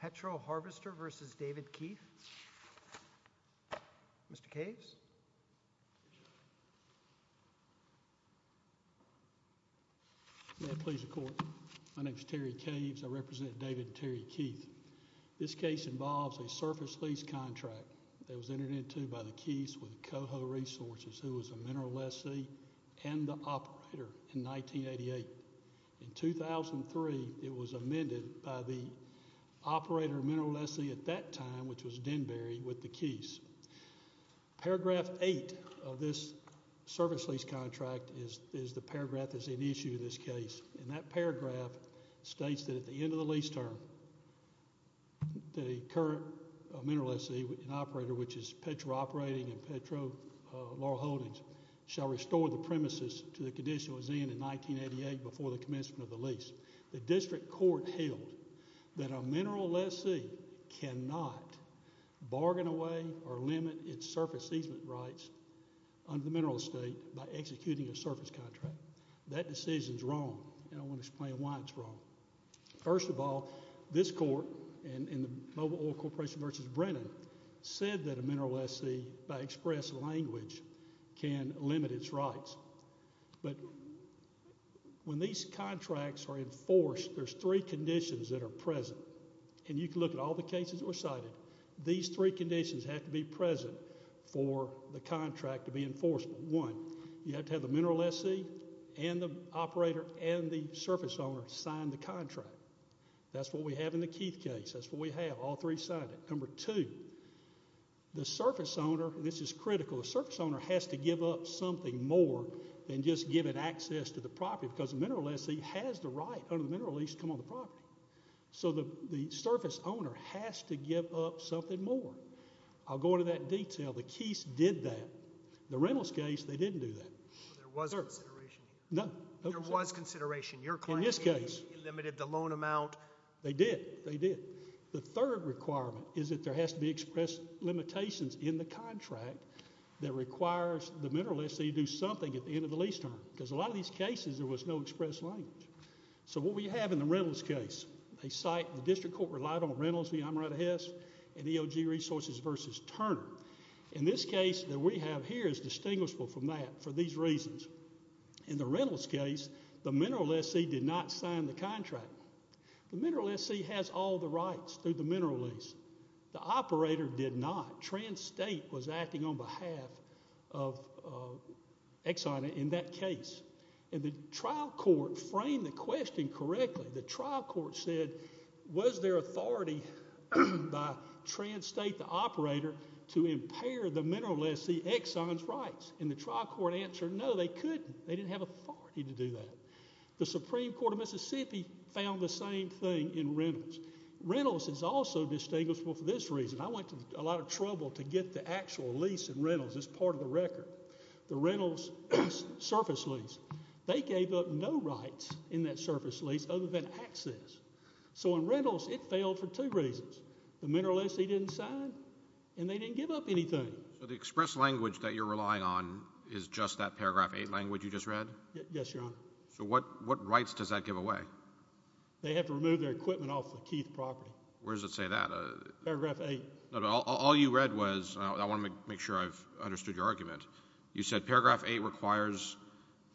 Petro Harvester v. David Keith Mr. Caves. My name is Terry Caves. I represent David Terry Keith. This case involves a surface lease contract that was entered into by the keys with Coho Resources who was a mineral lessee and the operator in 1988. In 2003 it was amended by the operator mineral lessee at that time which was Denberry with the keys. Paragraph eight of this service lease contract is the paragraph that's an issue in this case and that paragraph states that at the end of the lease term the current mineral lessee and operator which is Petro Operating and Petro Laurel Holdings shall restore the premises to the condition it was in in 1988 before the commencement of the lease. The district court held that a mineral lessee cannot bargain away or limit its surface easement rights under the mineral estate by executing a surface contract. That decision is wrong and I want to explain why it's wrong. First of all this court and in the Mobile Oil Corporation versus Brennan said that a mineral lessee by express language can limit its rights but when these contracts are enforced there's three conditions that are present and you can look at all the cases were cited. These three conditions have to be present for the contract to be enforceable. One, you have to have the mineral lessee and the operator and the surface owner sign the contract. That's what we have in the Keith case. That's what we have. All three signed it. Number two, the surface owner, this is critical, the surface owner has to give up something more than just give it access to the property because the mineral lessee has the right under the mineral lease to come on the property. So the the surface owner has to give up something more. I'll go into that detail. The Keith's did that. The Reynolds case, they didn't do that. There was a consideration. No. There was consideration. In this case, they limited the loan amount. They did. They did. The third requirement is that there has to be express limitations in the contract that requires the mineral lessee to do something at the end of the lease term because a lot of these cases there was no express language. So what we have in the Reynolds case, they cite the district court relied on Reynolds v. Amarato Hess and EOG Resources versus Turner. In this case that we have here is distinguishable from that for these reasons. In the Reynolds case, the mineral lessee did not sign the contract. The operator did not. Trans State was acting on behalf of Exxon in that case. And the trial court framed the question correctly. The trial court said, was there authority by Trans State, the operator, to impair the mineral lessee Exxon's rights? And the trial court answered, no, they couldn't. They didn't have authority to do that. The Supreme Court of Mississippi found the same thing in I went to a lot of trouble to get the actual lease in Reynolds as part of the record. The Reynolds surface lease, they gave up no rights in that surface lease other than access. So in Reynolds, it failed for two reasons. The mineral lessee didn't sign and they didn't give up anything. So the express language that you're relying on is just that paragraph 8 language you just read? Yes, your honor. So what what rights does that give away? They have to remove their All you read was I want to make sure I've understood your argument. You said paragraph eight requires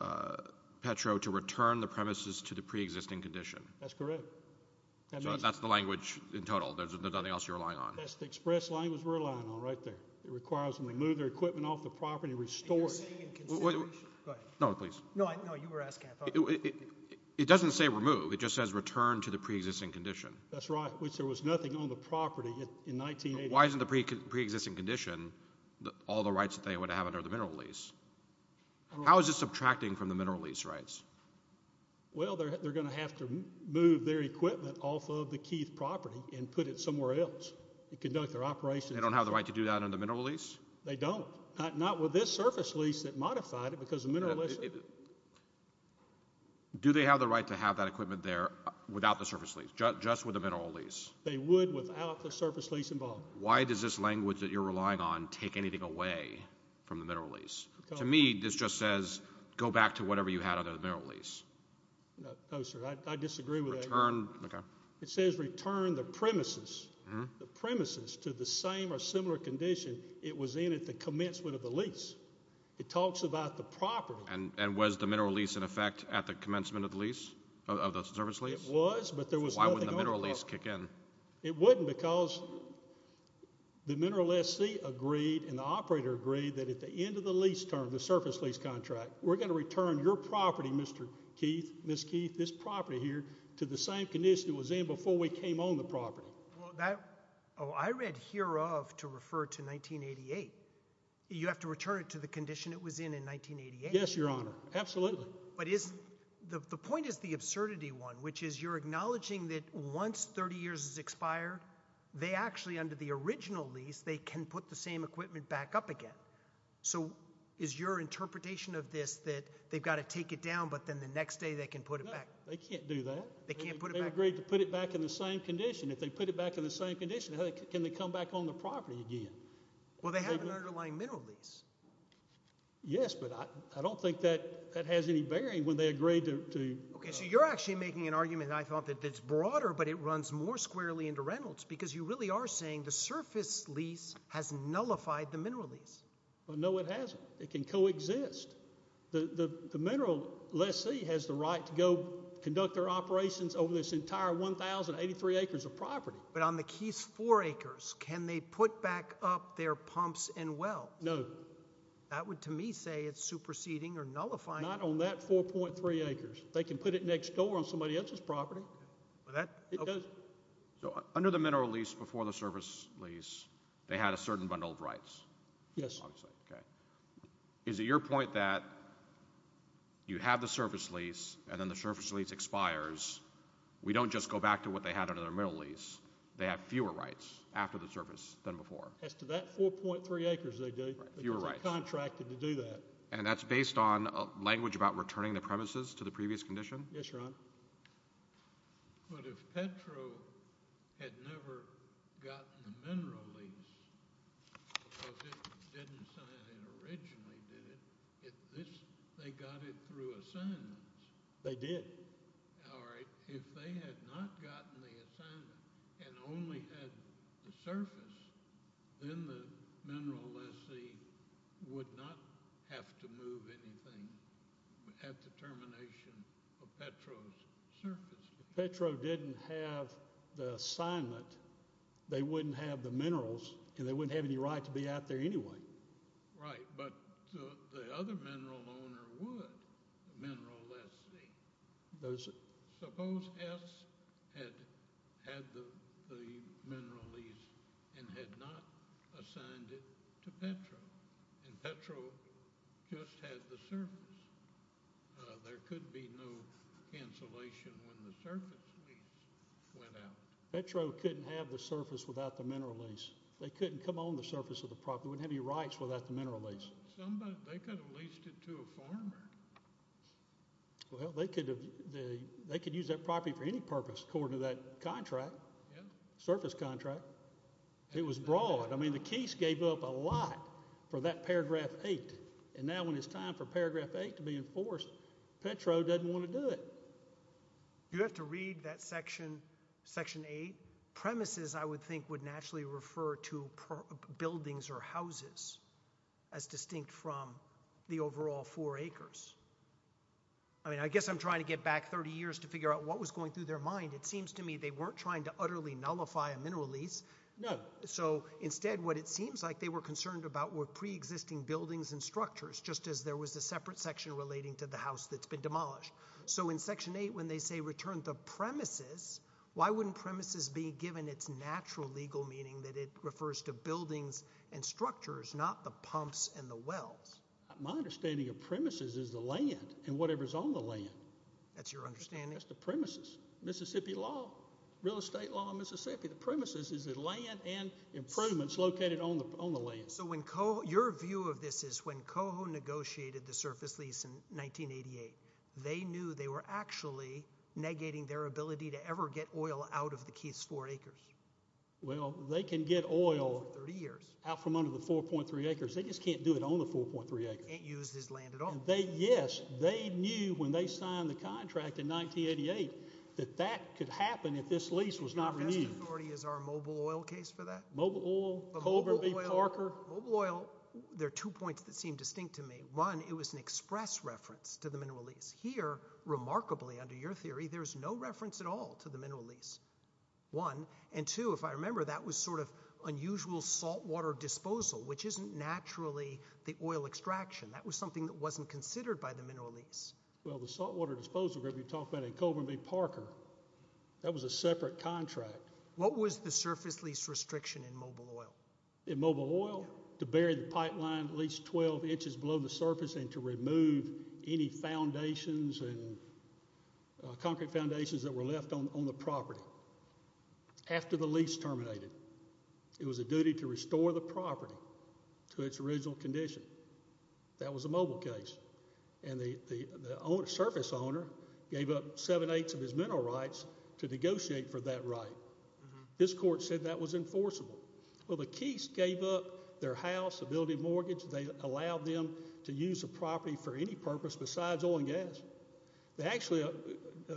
uh Petro to return the premises to the preexisting condition. That's correct. That's the language in total. There's nothing else you're relying on. That's the express language we're relying on right there. It requires them to move their equipment off the property restored. No, please. No, I know you were asking. It doesn't say remove. It just says return to the preexisting condition. That's right. Which there was nothing on the property in 1980. Why isn't the preexisting condition that all the rights that they would have under the mineral lease? How is this subtracting from the mineral lease rights? Well, they're going to have to move their equipment off of the Keith property and put it somewhere else to conduct their operations. They don't have the right to do that on the mineral lease. They don't, not with this surface lease that modified it because the mineral is do they have the right to have that equipment there without the surface just with the mineral lease? They would without the surface lease involved. Why does this language that you're relying on take anything away from the mineral lease? To me, this just says go back to whatever you had under the mineral lease. No, sir, I disagree with that. It says return the premises, the premises to the same or similar condition it was in at the commencement of the lease. It talks about the property and was the mineral lease in effect at the commencement of the lease of the service. It was, but there was a mineral lease kick in. It wouldn't because the mineral SC agreed and the operator agreed that at the end of the lease term, the surface lease contract, we're gonna return your property, Mr Keith, Miss Keith, this property here to the same condition it was in before we came on the property. That I read here of to refer to 1988. You have to return it to the condition it was in in 1988. Yes, your honor. Absolutely. But is the point is the thing that once 30 years is expired, they actually under the original lease, they can put the same equipment back up again. So is your interpretation of this that they've got to take it down, but then the next day they can put it back. They can't do that. They can't put it back. They agreed to put it back in the same condition. If they put it back in the same condition, can they come back on the property again? Well, they have an underlying mineral lease. Yes, but I don't think that that has any bearing when they agreed to. Okay, so you're actually making an argument. I thought that it's broader, but it runs more squarely into Reynolds because you really are saying the surface lease has nullified the mineral lease. But no, it hasn't. It can coexist. The mineral lessee has the right to go conduct their operations over this entire 1083 acres of property. But on the keys four acres, can they put back up their pumps and well, no, that would to me say it's superseding or nullifying on that 4.3 acres. They can put it next door on somebody else's property. So under the mineral lease before the surface lease, they had a certain bundle of rights. Yes. Okay. Is it your point that you have the surface lease and then the surface lease expires? We don't just go back to what they had under their middle lease. They have fewer rights after the surface than before. As to that 4.3 acres, they do. You're right. Contracted to do that. And that's based on language about returning the premises to the previous condition? Yes, Your Honor. But if Petro had never gotten the mineral lease, because it didn't sign it originally, they got it through assignments. They did. All right. If they had not gotten the assignment and only had the surface, then the mineral lessee would not have to move anything at the termination of Petro's surface. Petro didn't have the assignment. They wouldn't have the minerals and they wouldn't have any right to be out there anyway. Right. But the other mineral owner would, the mineral lessee. Suppose S had had the contract and Petro just had the surface. There could be no cancellation when the surface lease went out. Petro couldn't have the surface without the mineral lease. They couldn't come on the surface of the property, wouldn't have any rights without the mineral lease. They could have leased it to a farmer. Well, they could use that property for any purpose according to that contract, surface contract. It was broad. I mean, Keese gave up a lot for that paragraph eight. And now when it's time for paragraph eight to be enforced, Petro doesn't want to do it. You have to read that section eight. Premises, I would think, would naturally refer to buildings or houses as distinct from the overall four acres. I mean, I guess I'm trying to get back 30 years to figure out what was going through their mind. It seems to me they weren't trying to utterly nullify a mineral lease. No. So instead what it seems like they were concerned about were pre-existing buildings and structures, just as there was a separate section relating to the house that's been demolished. So in section eight, when they say return the premises, why wouldn't premises be given its natural legal meaning that it refers to buildings and structures, not the pumps and the wells? My understanding of premises is the land and whatever's on the land. That's your understanding? That's the premises. Mississippi law, real estate law in Mississippi. The premises is the land and improvements located on the land. So your view of this is when Coho negotiated the surface lease in 1988, they knew they were actually negating their ability to ever get oil out of the Keith's four acres. Well, they can get oil out from under the 4.3 acres. They just can't do it on the 4.3 acres. Can't use this land at all. Yes, they knew when they signed the contract in 1988 that that could happen if this lease was not renewed. Is our mobile oil case for that? Mobile oil. Parker. Mobile oil. There are two points that seem distinct to me. One, it was an express reference to the mineral lease here. Remarkably, under your theory, there's no reference at all to the mineral lease one and two. If I remember, that was sort of unusual saltwater disposal, which isn't naturally the oil extraction. That was something that wasn't considered by the mineral lease. Well, the saltwater disposal group you talked about in Coburn v. Parker, that was a separate contract. What was the surface lease restriction in mobile oil? In mobile oil? To bury the pipeline at least 12 inches below the surface and to remove any foundations and concrete foundations that were left on the property. After the lease terminated, it was a duty to restore the property to its original condition. That was a mobile case. And the surface owner gave up seven-eighths of his mineral rights to negotiate for that right. This court said that was enforceable. Well, the Keese gave up their house, the building mortgage. They allowed them to use the property for any purpose besides oil and gas. They actually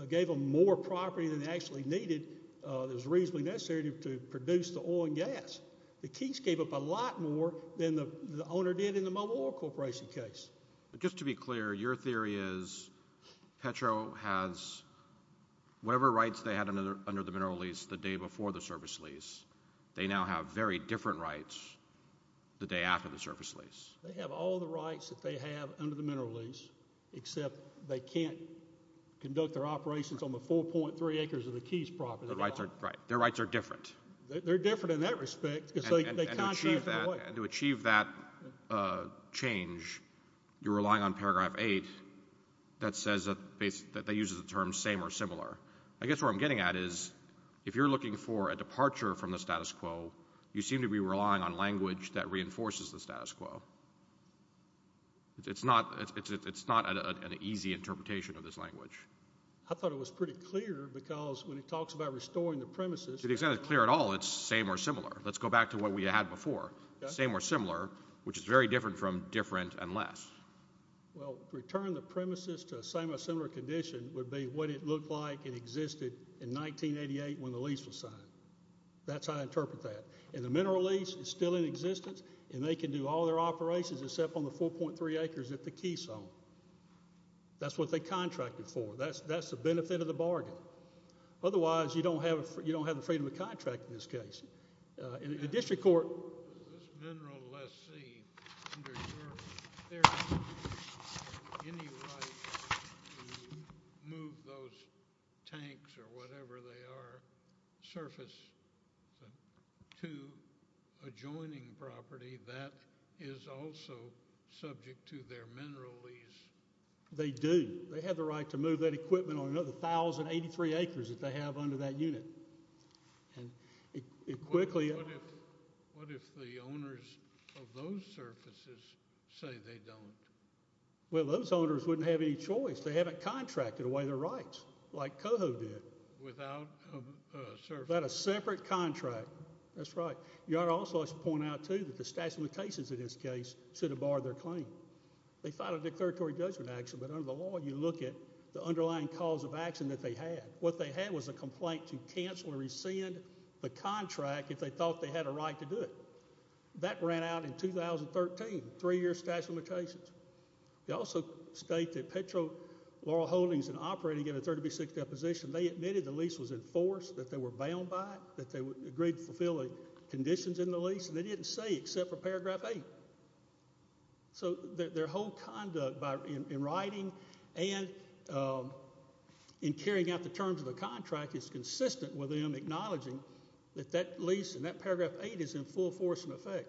gave them more property than they actually needed. It was reasonably necessary to produce the oil and gas. The Keese gave up a lot more than the owner did in the mobile oil operation case. Just to be clear, your theory is Petro has whatever rights they had under the mineral lease the day before the surface lease. They now have very different rights the day after the surface lease. They have all the rights that they have under the mineral lease, except they can't conduct their operations on the 4.3 acres of the Keese property. Their rights are different. They're different in that respect. And to achieve that change, you're relying on paragraph 8 that says that they use the term same or similar. I guess what I'm getting at is if you're looking for a departure from the status quo, you seem to be relying on language that reinforces the status quo. It's not an easy interpretation of this language. I thought it was pretty clear because when he talks about restoring the premises... It's not clear at all it's same or similar. Let's go back to what we had before. Same or similar, which is very different from different and less. Well, return the premises to a similar condition would be what it looked like it existed in 1988 when the lease was signed. That's how I interpret that. And the mineral lease is still in existence, and they can do all their operations except on the 4.3 acres at the Keese home. That's what they contracted for. That's the benefit of the bargain. Otherwise, you don't have the freedom of contract in this case. The district court... Does this mineral lessee, under your... Do they have any right to move those tanks or whatever they are, surface, to adjoining property that is also subject to their mineral lease? They do. They have the right to move that equipment on another 1,083 acres that they have under that unit. And it quickly... What if the owners of those surfaces say they don't? Well, those owners wouldn't have any choice. They haven't contracted away their rights like Coho did. Without a surface? Without a separate contract. That's right. You ought to also point out, too, that the statute of limitations in this case should have barred their claim. They filed a declaratory judgment action, but under the law, you look at the underlying cause of action that they had. What they had was a complaint to cancel or rescind the contract if they thought they had a right to do it. That ran out in 2013, three-year statute of limitations. They also state that Petro Laurel Holdings, in operating in a 30B6 deposition, they admitted the lease was enforced, that they were bound by it, that they agreed to fulfill conditions in the lease, and they didn't say except for paragraph 8. So their whole conduct in writing and in carrying out the terms of the contract is consistent with them acknowledging that that lease and that paragraph 8 is in full force and effect.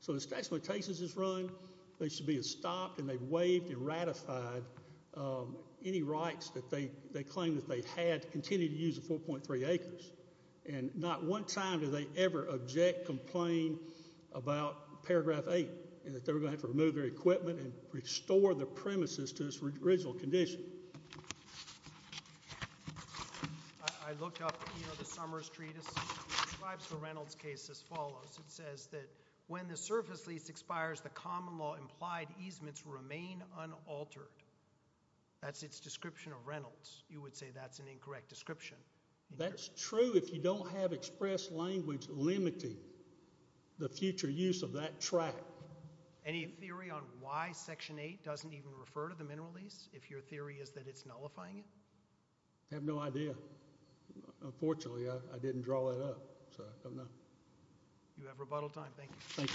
So the statute of limitations is run, they should be stopped, and they waived and ratified any rights that they claim that they had to continue to use the 4.3 acres. And not one sign do they ever object, complain about paragraph 8, and that they were going to have to remove their equipment and restore the premises to its original condition. I looked up, you know, the Summers Treatise. It describes the Reynolds case as follows. It says that when the surface lease expires, the common law implied easements remain unaltered. That's its description of Reynolds. You would say that's an incorrect description. That's true if you don't have express language limiting the future use of that tract. Any theory on why section 8 doesn't even refer to the mineral lease, if your theory is that it's nullifying it? I have no idea. Unfortunately, I didn't draw that up. You have rebuttal time. Thank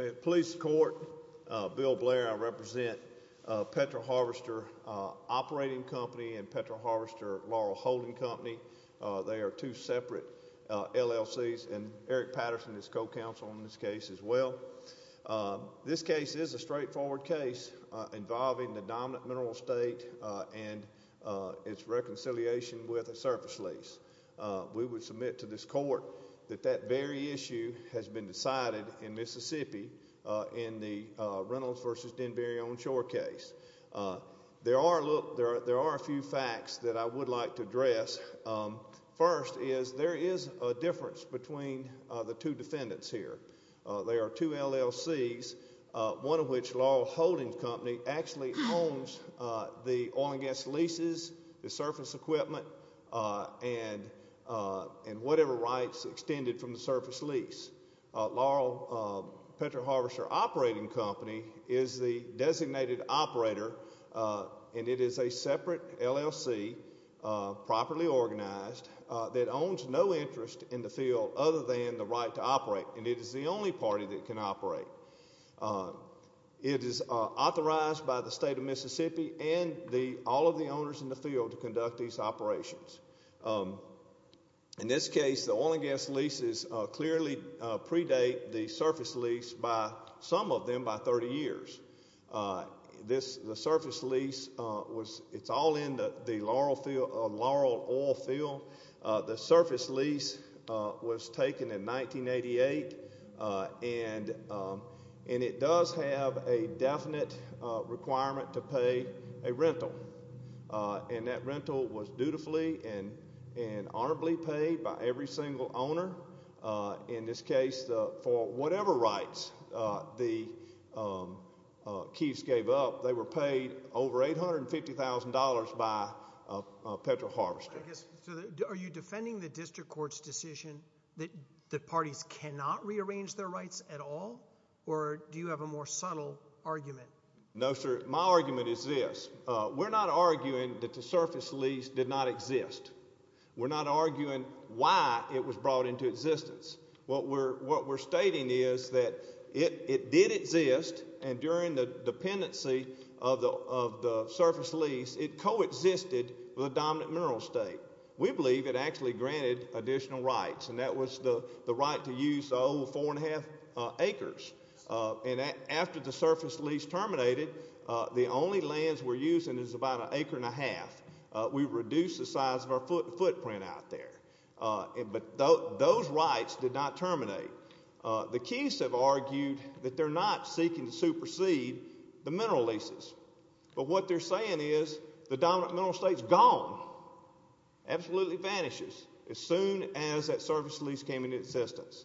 you. Police court. Bill Blair, I represent Petro Harvester Operating Company and Petro Harvester Laurel Holding Company. They are two separate LLCs, and Eric Patterson is co-counsel in this case as well. This case is a straightforward case involving the dominant mineral state and its reconciliation with a surface lease. We would submit to this court that that very issue has been decided in Mississippi in the Reynolds v. Denberry Owned Shore case. There are a few facts that I would like to address. First is there is a difference between the two defendants here. They are two LLCs, one of which is Laurel Holding Company, actually owns the oil and gas leases, the surface equipment, and whatever rights extended from the surface lease. Laurel Petro Harvester Operating Company is the designated operator, and it is a separate LLC, properly organized, that owns no interest in the field other than the right to operate, and it is the only party that can operate. It is authorized by the state of Mississippi and all of the owners in the field to conduct these operations. In this case, the oil and gas leases clearly predate the surface lease by some of them by 30 years. The surface lease, it's all in the Laurel oil field. The surface lease was taken in 1988, and it does have a definite requirement to pay a rental, and that rental was dutifully and honorably paid by every single owner. In this case, for whatever rights the Keefs gave up, they were paid over $850,000 by Petro Harvester. Are you defending the district court's decision that the parties cannot rearrange their rights at all, or do you have a more subtle argument? No, sir. My argument is this. We're not arguing that the surface lease did not exist. We're not arguing why it was brought into existence. What we're stating is that it did exist, and during the dependency of the surface lease, it coexisted with the dominant mineral state. We believe it actually granted additional rights, and that was the right to use the old 4 1⁄2 acres. After the surface lease terminated, the only lands we're using is about an acre and a half. We reduced the size of our footprint out there. But those rights did not terminate. The Keefs have argued that they're not seeking to supersede the mineral leases. But what they're saying is the dominant mineral state's gone, absolutely vanishes, as soon as that surface lease came into existence.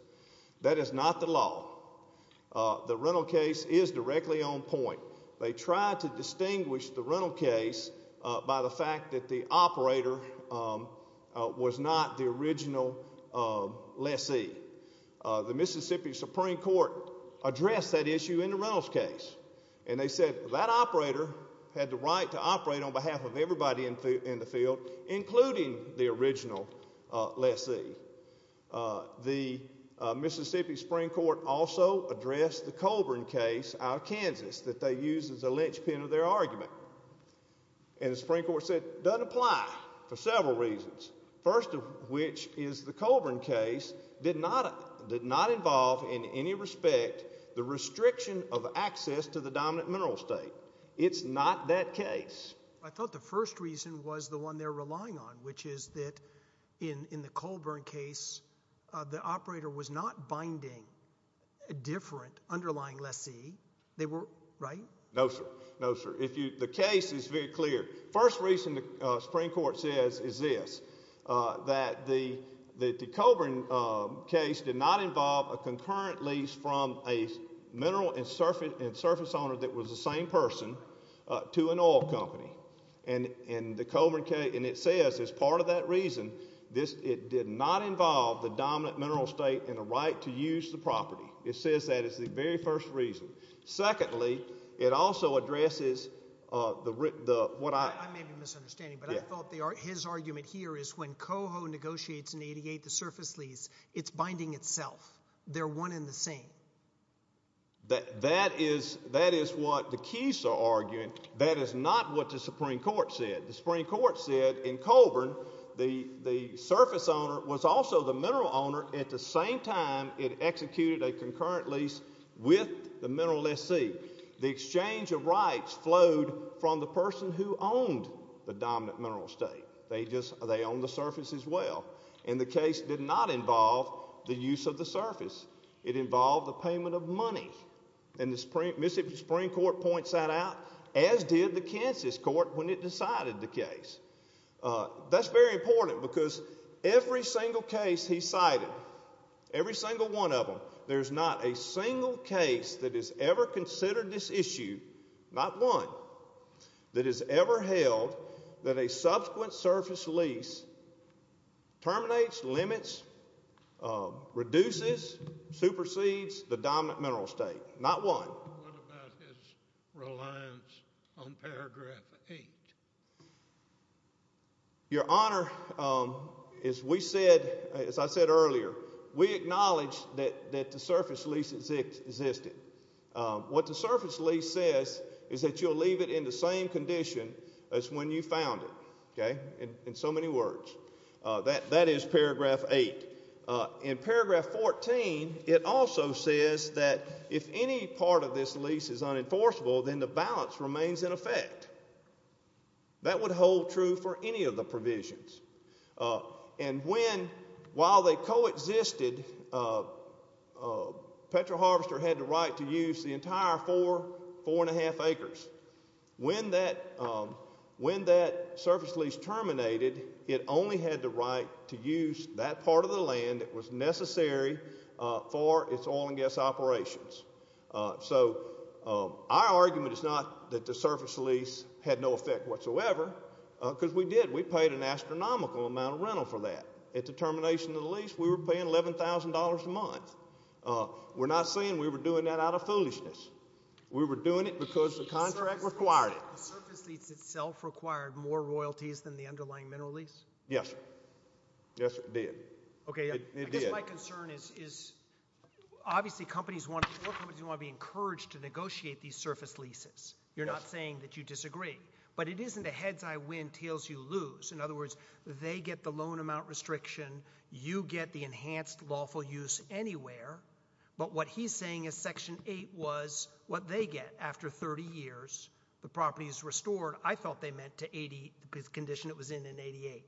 That is not the law. The rental case is directly on point. They tried to distinguish the rental case by the fact that the operator was not the original lessee. The Mississippi Supreme Court addressed that issue in the rentals case, and they said that operator had the right to operate on behalf of everybody in the field, including the original lessee. The Mississippi Supreme Court also addressed the Colburn case out of Kansas that they used as a linchpin of their argument. And the Supreme Court said it doesn't apply for several reasons. First of which is the Colburn case did not involve in any respect the restriction of access to the dominant mineral state. It's not that case. I thought the first reason was the one they're relying on, which is that in the Colburn case, the operator was not binding a different underlying lessee. They were, right? No, sir. No, sir. If you, the case is very clear. First reason the Supreme Court says is this, that the Colburn case did not involve a concurrent lease from a mineral and surface owner that was the same person to an oil company. And the Colburn case, and it says as part of that reason, it did not involve the dominant mineral state in a right to use the property. It says that is the very first reason. Secondly, it also addresses the what I... I may be misunderstanding, but I thought his argument here is when Coho negotiates an 88 to surface lease, it's binding itself. They're one in the same. That is, that is what the keys are arguing. That is not what the Supreme Court said. The Supreme Court said in Colburn the surface owner was also the mineral owner at the same time it executed a concurrent lease with the mineral lessee. The exchange of rights flowed from the person who owned the dominant mineral state. They just, they own the surface as well. And the case did not involve the use of the surface. It involved the payment of money. And the Mississippi Supreme Court points that out, as did the Kansas court when it decided the case. That's very important because every single case he cited, every single one of them, there's not a single case that has ever considered this issue, not one, that has ever held that a subsequent surface lease terminates limits, reduces, supersedes the dominant mineral state. Not one. What about his reliance on paragraph 8? Your Honor, as we said, as I said earlier, we acknowledge that the surface lease existed. What the surface lease says is that you'll leave it in the same condition as when you found it. Okay? In so many words. That is paragraph 8. In paragraph 14, it also says that if any part of this lease is unenforceable, then the balance remains in effect. That would hold true for any of the provisions. And when, while they coexisted, Petro Harvester had the right to use the entire four, four and a half acres. When that surface lease terminated, it only had the right to use that part of the land that was necessary for its oil and gas operations. So our argument is not that the surface lease had no effect whatsoever, because we did. We paid an astronomical amount of rental for that. At the termination of the lease, we were paying $11,000 a month. We're not We were doing it because the contract required it. The surface lease itself required more royalties than the underlying mineral lease? Yes. Yes, it did. It did. Okay. I guess my concern is, obviously, companies want to, companies want to be encouraged to negotiate these surface leases. You're not saying that you disagree. But it isn't a heads-I-win, tails-you-lose. In other words, they get the loan amount restriction, you get the enhanced lawful use anywhere, but what he's saying is Section 8 was what they get after 30 years. The property is restored. I thought they meant to 80, the condition it was in in 88.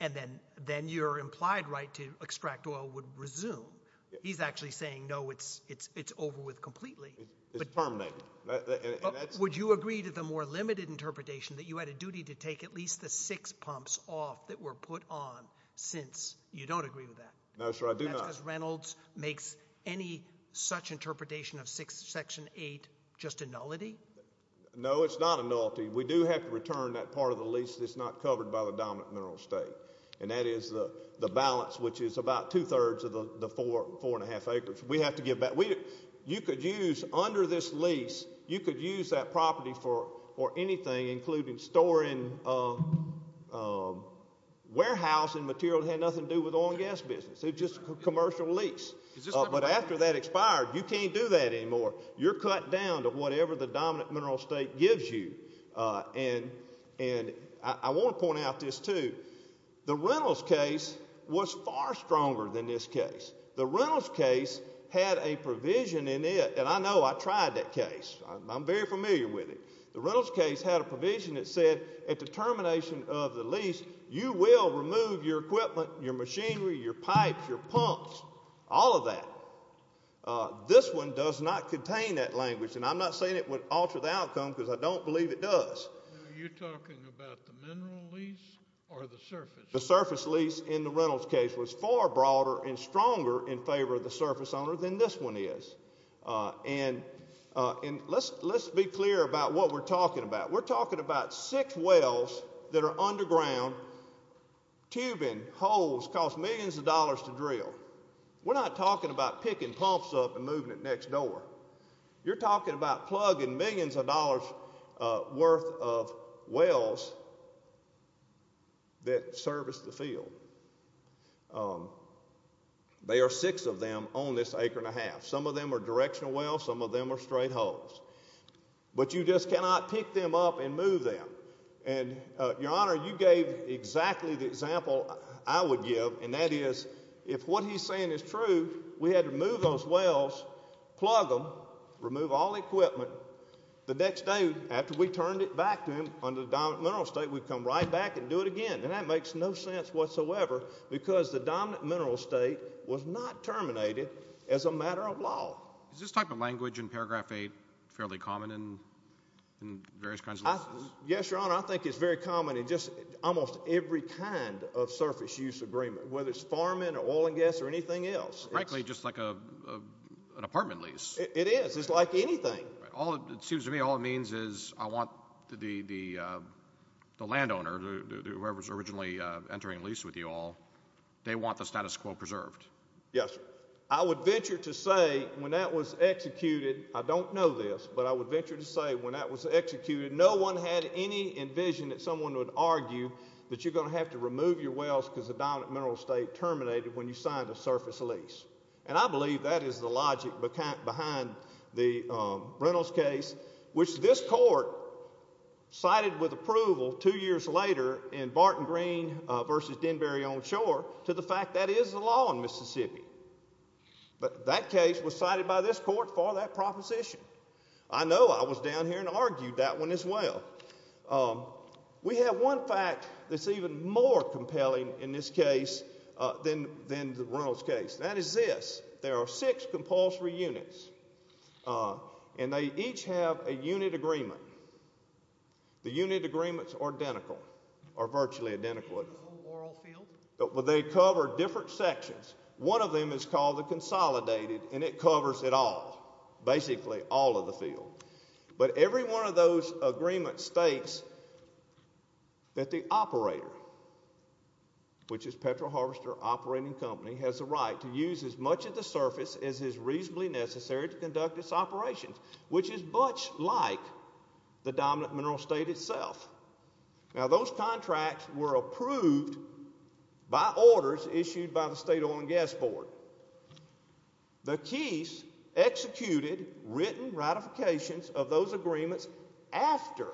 And then your implied right to extract oil would resume. He's actually saying, no, it's over with completely. It's terminated. Would you agree to the more limited interpretation that you had a duty to take at least the six pumps off that were put on since? You don't agree with that? No, sir, I do not. That's because Reynolds makes any such interpretation of Section 8 just a nullity? No, it's not a nullity. We do have to return that part of the lease that's not covered by the dominant mineral estate. And that is the balance, which is about two-thirds of the four and a half acres. We have to give back. You could use, under this lease, you could use that property for anything, including storing warehousing material that had nothing to do with oil and gas business. It's just a commercial lease. But after that expired, you can't do that anymore. You're cut down to whatever the dominant mineral estate gives you. And I want to point out this, too. The Reynolds case was far stronger than this case. The Reynolds case had a provision in it, and I know I tried that case. I'm very familiar with it. The Reynolds case had a provision that said, at the termination of the lease, you will remove your equipment, your machinery, your pipes, your pumps, all of that. This one does not contain that language. And I'm not saying it would alter the outcome because I don't believe it does. Are you talking about the mineral lease or the surface lease? The surface lease in the Reynolds case was far broader and stronger in favor of the surface owner than this one is. And let's be clear about what we're talking about. We're talking about six wells that are underground, tubing, holes, cost millions of dollars to drill. We're not talking about picking pumps up and moving it next door. You're talking about plugging millions of dollars worth of wells that service the field. There are six of them on this acre and a half. Some of them are directional wells. Some of them are straight holes. But you just cannot pick them up and move them. And, Your Honor, you gave exactly the example I would give, and that is, if what he's saying is true, we had to move those wells, plug them, remove all equipment. The next day, after we turned it back to him under the dominant mineral state, we'd come right back and do it again, and that makes no sense whatsoever because the dominant mineral state was not terminated as a matter of law. Is this type of language in Paragraph 8 fairly common in various kinds of leases? Yes, Your Honor. I think it's very common in just almost every kind of surface use agreement, whether it's farming or oil and gas or anything else. Frankly, just like an apartment lease. It is. It's like anything. All it seems to me, all it means is I want the landowner, whoever's originally entering a lease with you all, they want the status quo preserved. Yes, sir. I would venture to say when that was executed, I don't know this, but I would venture to say when that was executed, no one had any envision that someone would argue that you're going to have to remove your wells because the dominant mineral state terminated when you signed a surface lease. And I believe that is the logic behind the Reynolds case, which this court cited with approval two years later in Barton Green v. Denberry on Shore to the fact that is the law in Mississippi. But that case was cited by this court for that proposition. I know I was down here and argued that one as well. We have one fact that's even more compelling in this case than the Reynolds case, and that is this. There are six compulsory units, and they each have a unit agreement. The unit agreements are identical or virtually identical. They cover different sections. One of them is called the consolidated, and it covers it all, basically all of the field. But every one of those agreements states that the operator, which is Petro Harvester Operating Company, has the right to use as much of the surface as is reasonably necessary to conduct its operations, which is much like the dominant mineral state itself. Now, those contracts were approved by orders issued by the state oil and gas board. The keys executed written ratifications of those agreements after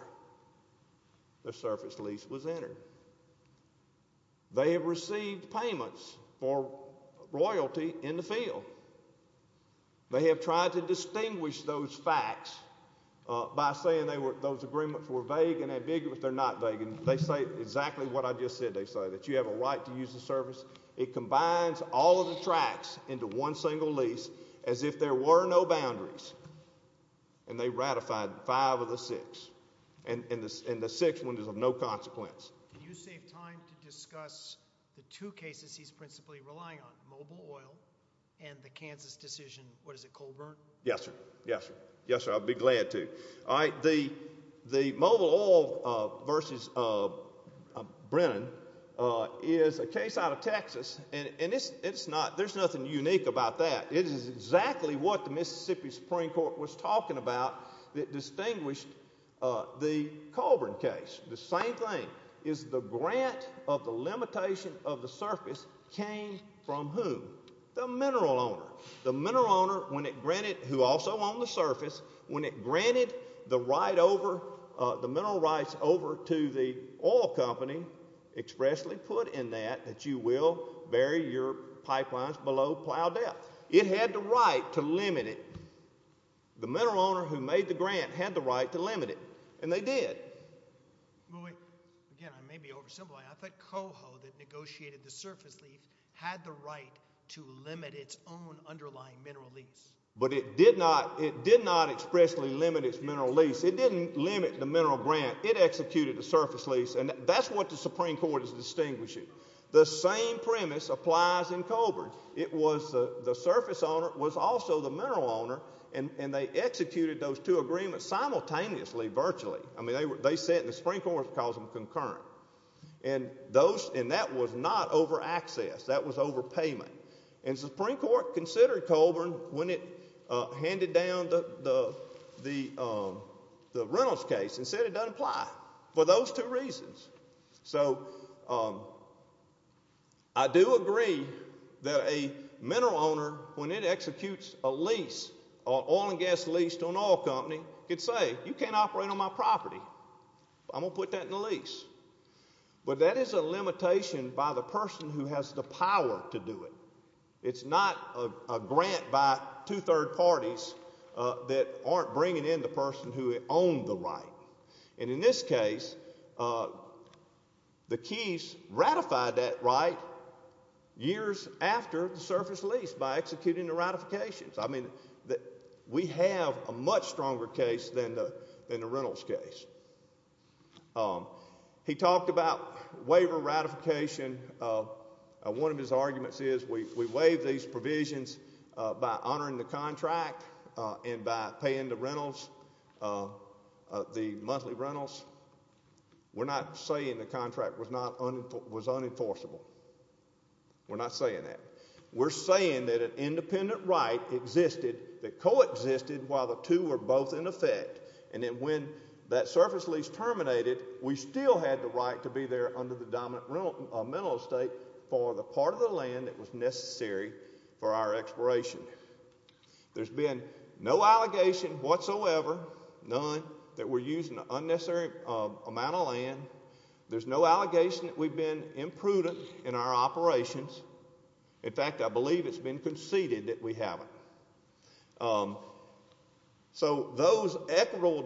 the surface lease was entered. They have received payments for royalty in the field. They have tried to distinguish those facts by saying those agreements were vague and ambiguous. They're not vague. They say exactly what I just said. They say that you have a right to use the surface. It combines all of the tracks into one single lease as if there were no boundaries, and they ratified five of the six, and the sixth one is of no consequence. Can you save time to discuss the two cases he's principally relying on, mobile oil and the Kansas decision, what is it, Colburn? Yes, sir. Yes, sir. Yes, sir. I'd be glad to. All right, the mobile oil versus Brennan is a case out of Texas, and there's nothing unique about that. It is exactly what the Mississippi Supreme Court was talking about that distinguished the Colburn case. The same thing is the grant of the limitation of the surface came from whom? The mineral owner. The mineral owner who also owned the surface, when it granted the mineral rights over to the oil company expressly put in that that you will bury your pipelines below plow depth. It had the right to limit it. The mineral owner who made the grant had the right to limit it, and they did. Again, I may be oversimplifying. I thought Coho that negotiated the surface lease had the right to limit its own underlying mineral lease. But it did not expressly limit its mineral lease. It didn't limit the mineral grant. It executed the surface lease, and that's what the Supreme Court is distinguishing. The same premise applies in Colburn. It was the surface owner was also the mineral owner, and they executed those two agreements simultaneously virtually. I mean, they said the Supreme Court calls them concurrent. And that was not over access. That was over payment. And the Supreme Court considered Colburn when it handed down the Reynolds case and said it doesn't apply for those two reasons. So I do agree that a mineral owner, when it executes a lease, an oil and gas lease to an oil company, could say you can't operate on my property. I'm going to put that in the lease. But that is a limitation by the person who has the power to do it. It's not a grant by two third parties that aren't bringing in the person who owned the right. And in this case, the Keys ratified that right years after the surface lease by executing the ratifications. I mean, we have a much stronger case than the Reynolds case. He talked about waiver ratification. One of his arguments is we waive these provisions by honoring the contract and by paying the rentals, the monthly rentals. We're not saying the contract was unenforceable. We're not saying that. We're saying that an independent right existed that coexisted while the two were both in effect. And then when that surface lease terminated, we still had the right to be there under the dominant rental estate for the part of the land that was necessary for our exploration. There's been no allegation whatsoever, none, that we're using an unnecessary amount of land. There's no allegation that we've been imprudent in our operations. In fact, I believe it's been conceded that we haven't. So those equitable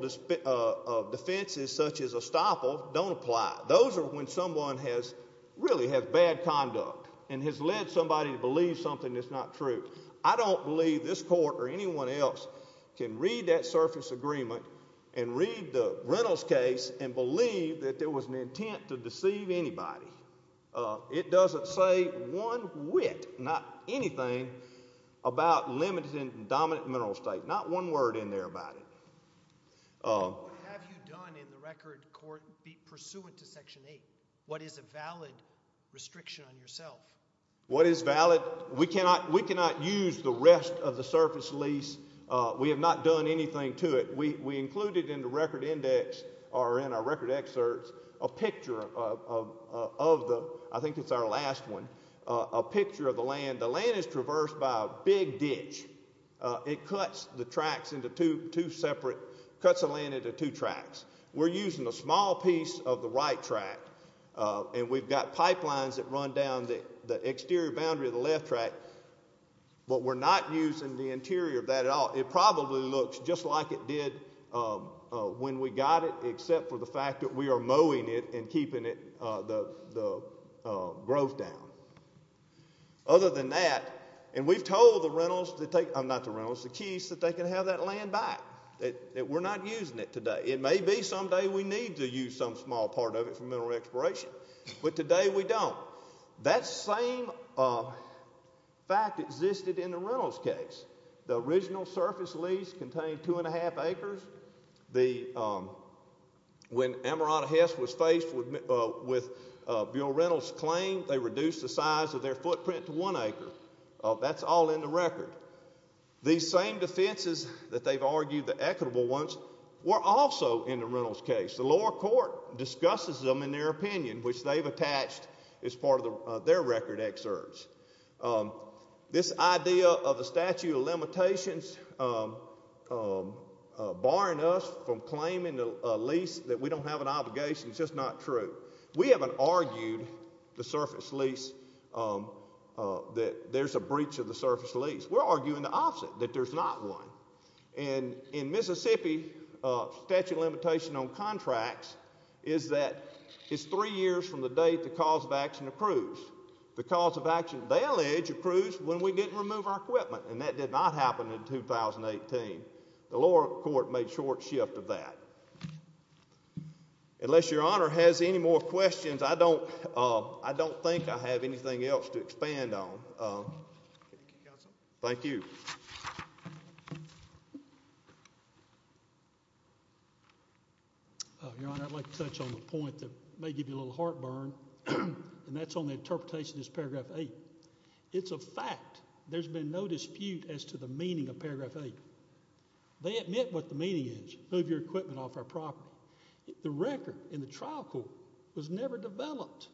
defenses such as estoppel don't apply. Those are when someone has really had bad conduct and has led somebody to believe something that's not true. I don't believe this court or anyone else can read that surface agreement and read the Reynolds case and believe that there was an intent to deceive anybody. It doesn't say one whit, not anything, about limited and dominant mineral estate. Not one word in there about it. What have you done in the record court pursuant to Section 8? What is a valid restriction on yourself? What is valid? We cannot use the rest of the surface lease. We have not done anything to it. We included in the record index or in our record excerpts a picture of the, I think it's our last one, a picture of the land. The land is traversed by a big ditch. It cuts the tracks into two separate, cuts the land into two tracks. We're using a small piece of the right track, and we've got pipelines that run down the exterior boundary of the left track, but we're not using the interior of that at all. It probably looks just like it did when we got it, except for the fact that we are mowing it and keeping the growth down. Other than that, and we've told the keys that they can have that land back. We're not using it today. It may be someday we need to use some small part of it for mineral exploration, but today we don't. That same fact existed in the Reynolds case. The original surface lease contained two and a half acres. When Amarato Hess was faced with Bill Reynolds' claim, they reduced the size of their footprint to one acre. That's all in the record. These same defenses that they've argued, the equitable ones, were also in the Reynolds case. The lower court discusses them in their opinion, which they've attached as part of their record excerpts. This idea of a statute of limitations barring us from claiming a lease that we don't have an obligation is just not true. We haven't argued the surface lease, that there's a breach of the surface lease. We're arguing the opposite, that there's not one. In Mississippi, statute of limitations on contracts is that it's three years from the date the cause of action approves. The cause of action validates approves when we didn't remove our equipment, and that did not happen in 2018. The lower court made short shift of that. Unless Your Honor has any more questions, I don't think I have anything else to expand on. Thank you. Your Honor, I'd like to touch on the point that may give you a little heartburn, and that's on the interpretation of this Paragraph 8. It's a fact. There's been no dispute as to the meaning of Paragraph 8. They admit what the meaning is, move your equipment off our property. The record in the trial court was never developed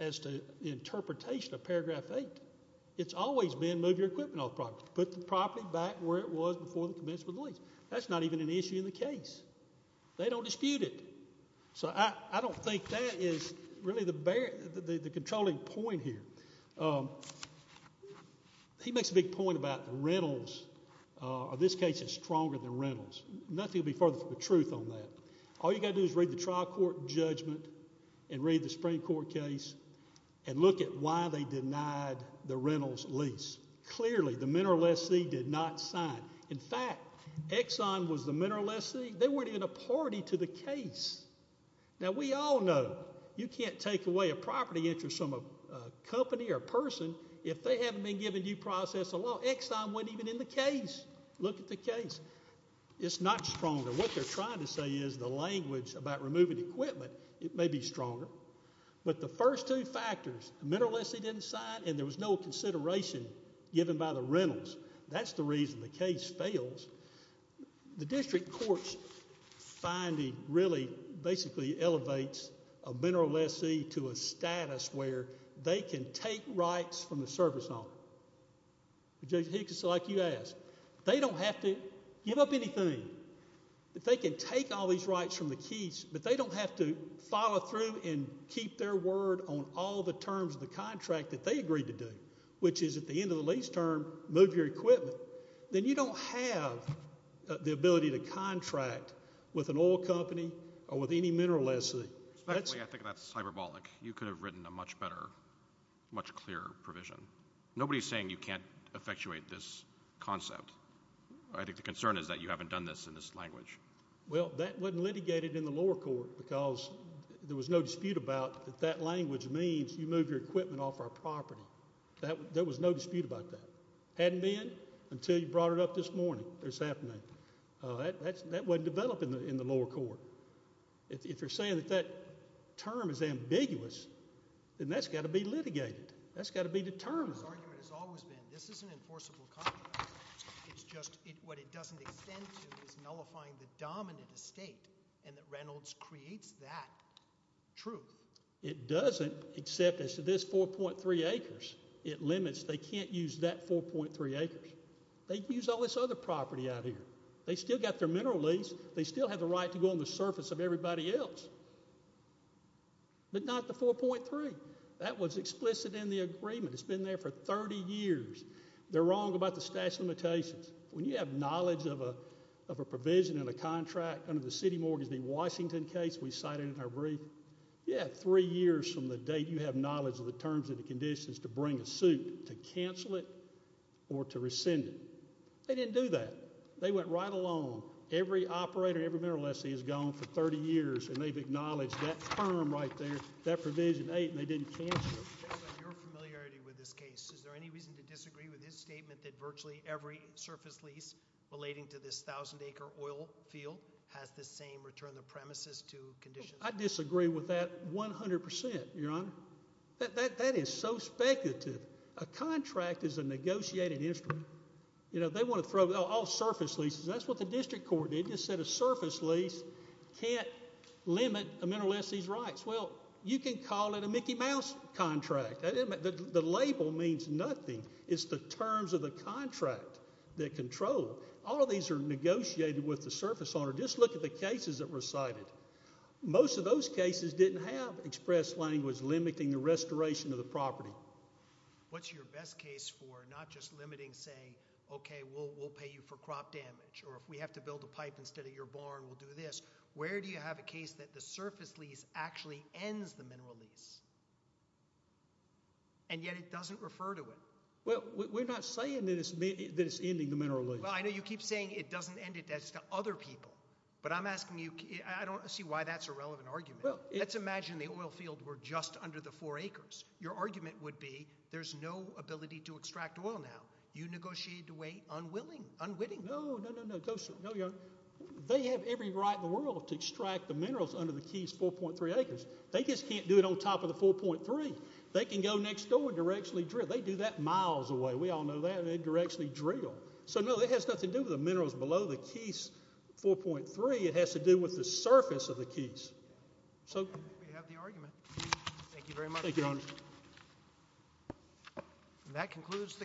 as to the interpretation of Paragraph 8. It's always been move your equipment off the property, put the property back where it was before the commencement of the lease. That's not even an issue in the case. They don't dispute it. So I don't think that is really the controlling point here. He makes a big point about Reynolds. This case is stronger than Reynolds. Nothing will be further from the truth on that. All you've got to do is read the trial court judgment and read the Supreme Court case and look at why they denied the Reynolds lease. Clearly, the mineral lessee did not sign. In fact, Exxon was the mineral lessee. They weren't even a party to the case. Now, we all know you can't take away a property interest from a company or a person if they haven't been given due process of law. Exxon wasn't even in the case. Look at the case. It's not stronger. What they're trying to say is the language about removing equipment may be stronger. But the first two factors, the mineral lessee didn't sign and there was no consideration given by the Reynolds. That's the reason the case fails. The district court's finding really basically elevates a mineral lessee to a status where they can take rights from the service owner. It's like you asked. They don't have to give up anything. They can take all these rights from the keys, but they don't have to follow through and keep their word on all the terms of the contract that they agreed to do, which is at the end of the lease term, move your equipment. Then you don't have the ability to contract with an oil company or with any mineral lessee. I think that's hyperbolic. You could have written a much better, much clearer provision. Nobody's saying you can't effectuate this concept. I think the concern is that you haven't done this in this language. Well, that wasn't litigated in the lower court because there was no dispute about that language means you move your equipment off our property. There was no dispute about that. Hadn't been until you brought it up this morning or this afternoon. That wasn't developed in the lower court. If you're saying that that term is ambiguous, then that's got to be litigated. That's got to be determined. This argument has always been this is an enforceable contract. It's just what it doesn't extend to is nullifying the dominant estate and that Reynolds creates that truth. It doesn't, except as to this 4.3 acres. It limits they can't use that 4.3 acres. They can use all this other property out here. They still got their mineral lease. They still have the right to go on the surface of everybody else, but not the 4.3. That was explicit in the agreement. It's been there for 30 years. They're wrong about the stash limitations. When you have knowledge of a provision in a contract under the city mortgage, the Washington case we cited in our brief, you have three years from the date you have knowledge of the terms and the conditions to bring a suit to cancel it or to rescind it. They didn't do that. They went right along. Every operator, every mineral estate has gone for 30 years, and they've acknowledged that term right there, that provision 8, and they didn't cancel it. Your familiarity with this case, is there any reason to disagree with his statement that virtually every surface lease relating to this 1,000-acre oil field has the same return of premises to conditions? I disagree with that 100 percent, Your Honor. That is so speculative. A contract is a negotiated instrument. They want to throw all surface leases. That's what the district court did. It just said a surface lease can't limit a mineral estate's rights. Well, you can call it a Mickey Mouse contract. The label means nothing. It's the terms of the contract that control. All of these are negotiated with the surface owner. Just look at the cases that were cited. Most of those cases didn't have express language limiting the restoration of the property. What's your best case for not just limiting, say, okay, we'll pay you for crop damage, or if we have to build a pipe instead of your barn, we'll do this. Where do you have a case that the surface lease actually ends the mineral lease, and yet it doesn't refer to it? Well, we're not saying that it's ending the mineral lease. Well, I know you keep saying it doesn't end it. That's to other people. But I'm asking you, I don't see why that's a relevant argument. Let's imagine the oil field were just under the four acres. Your argument would be there's no ability to extract oil now. You negotiated away unwilling, unwitting. No, no, no, no. They have every right in the world to extract the minerals under the Keys 4.3 acres. They just can't do it on top of the 4.3. They can go next door and directionally drill. They do that miles away. We all know that. They directionally drill. So, no, it has nothing to do with the minerals below the Keys 4.3. It has to do with the surface of the Keys. We have the argument. Thank you very much. Thank you, Your Honor.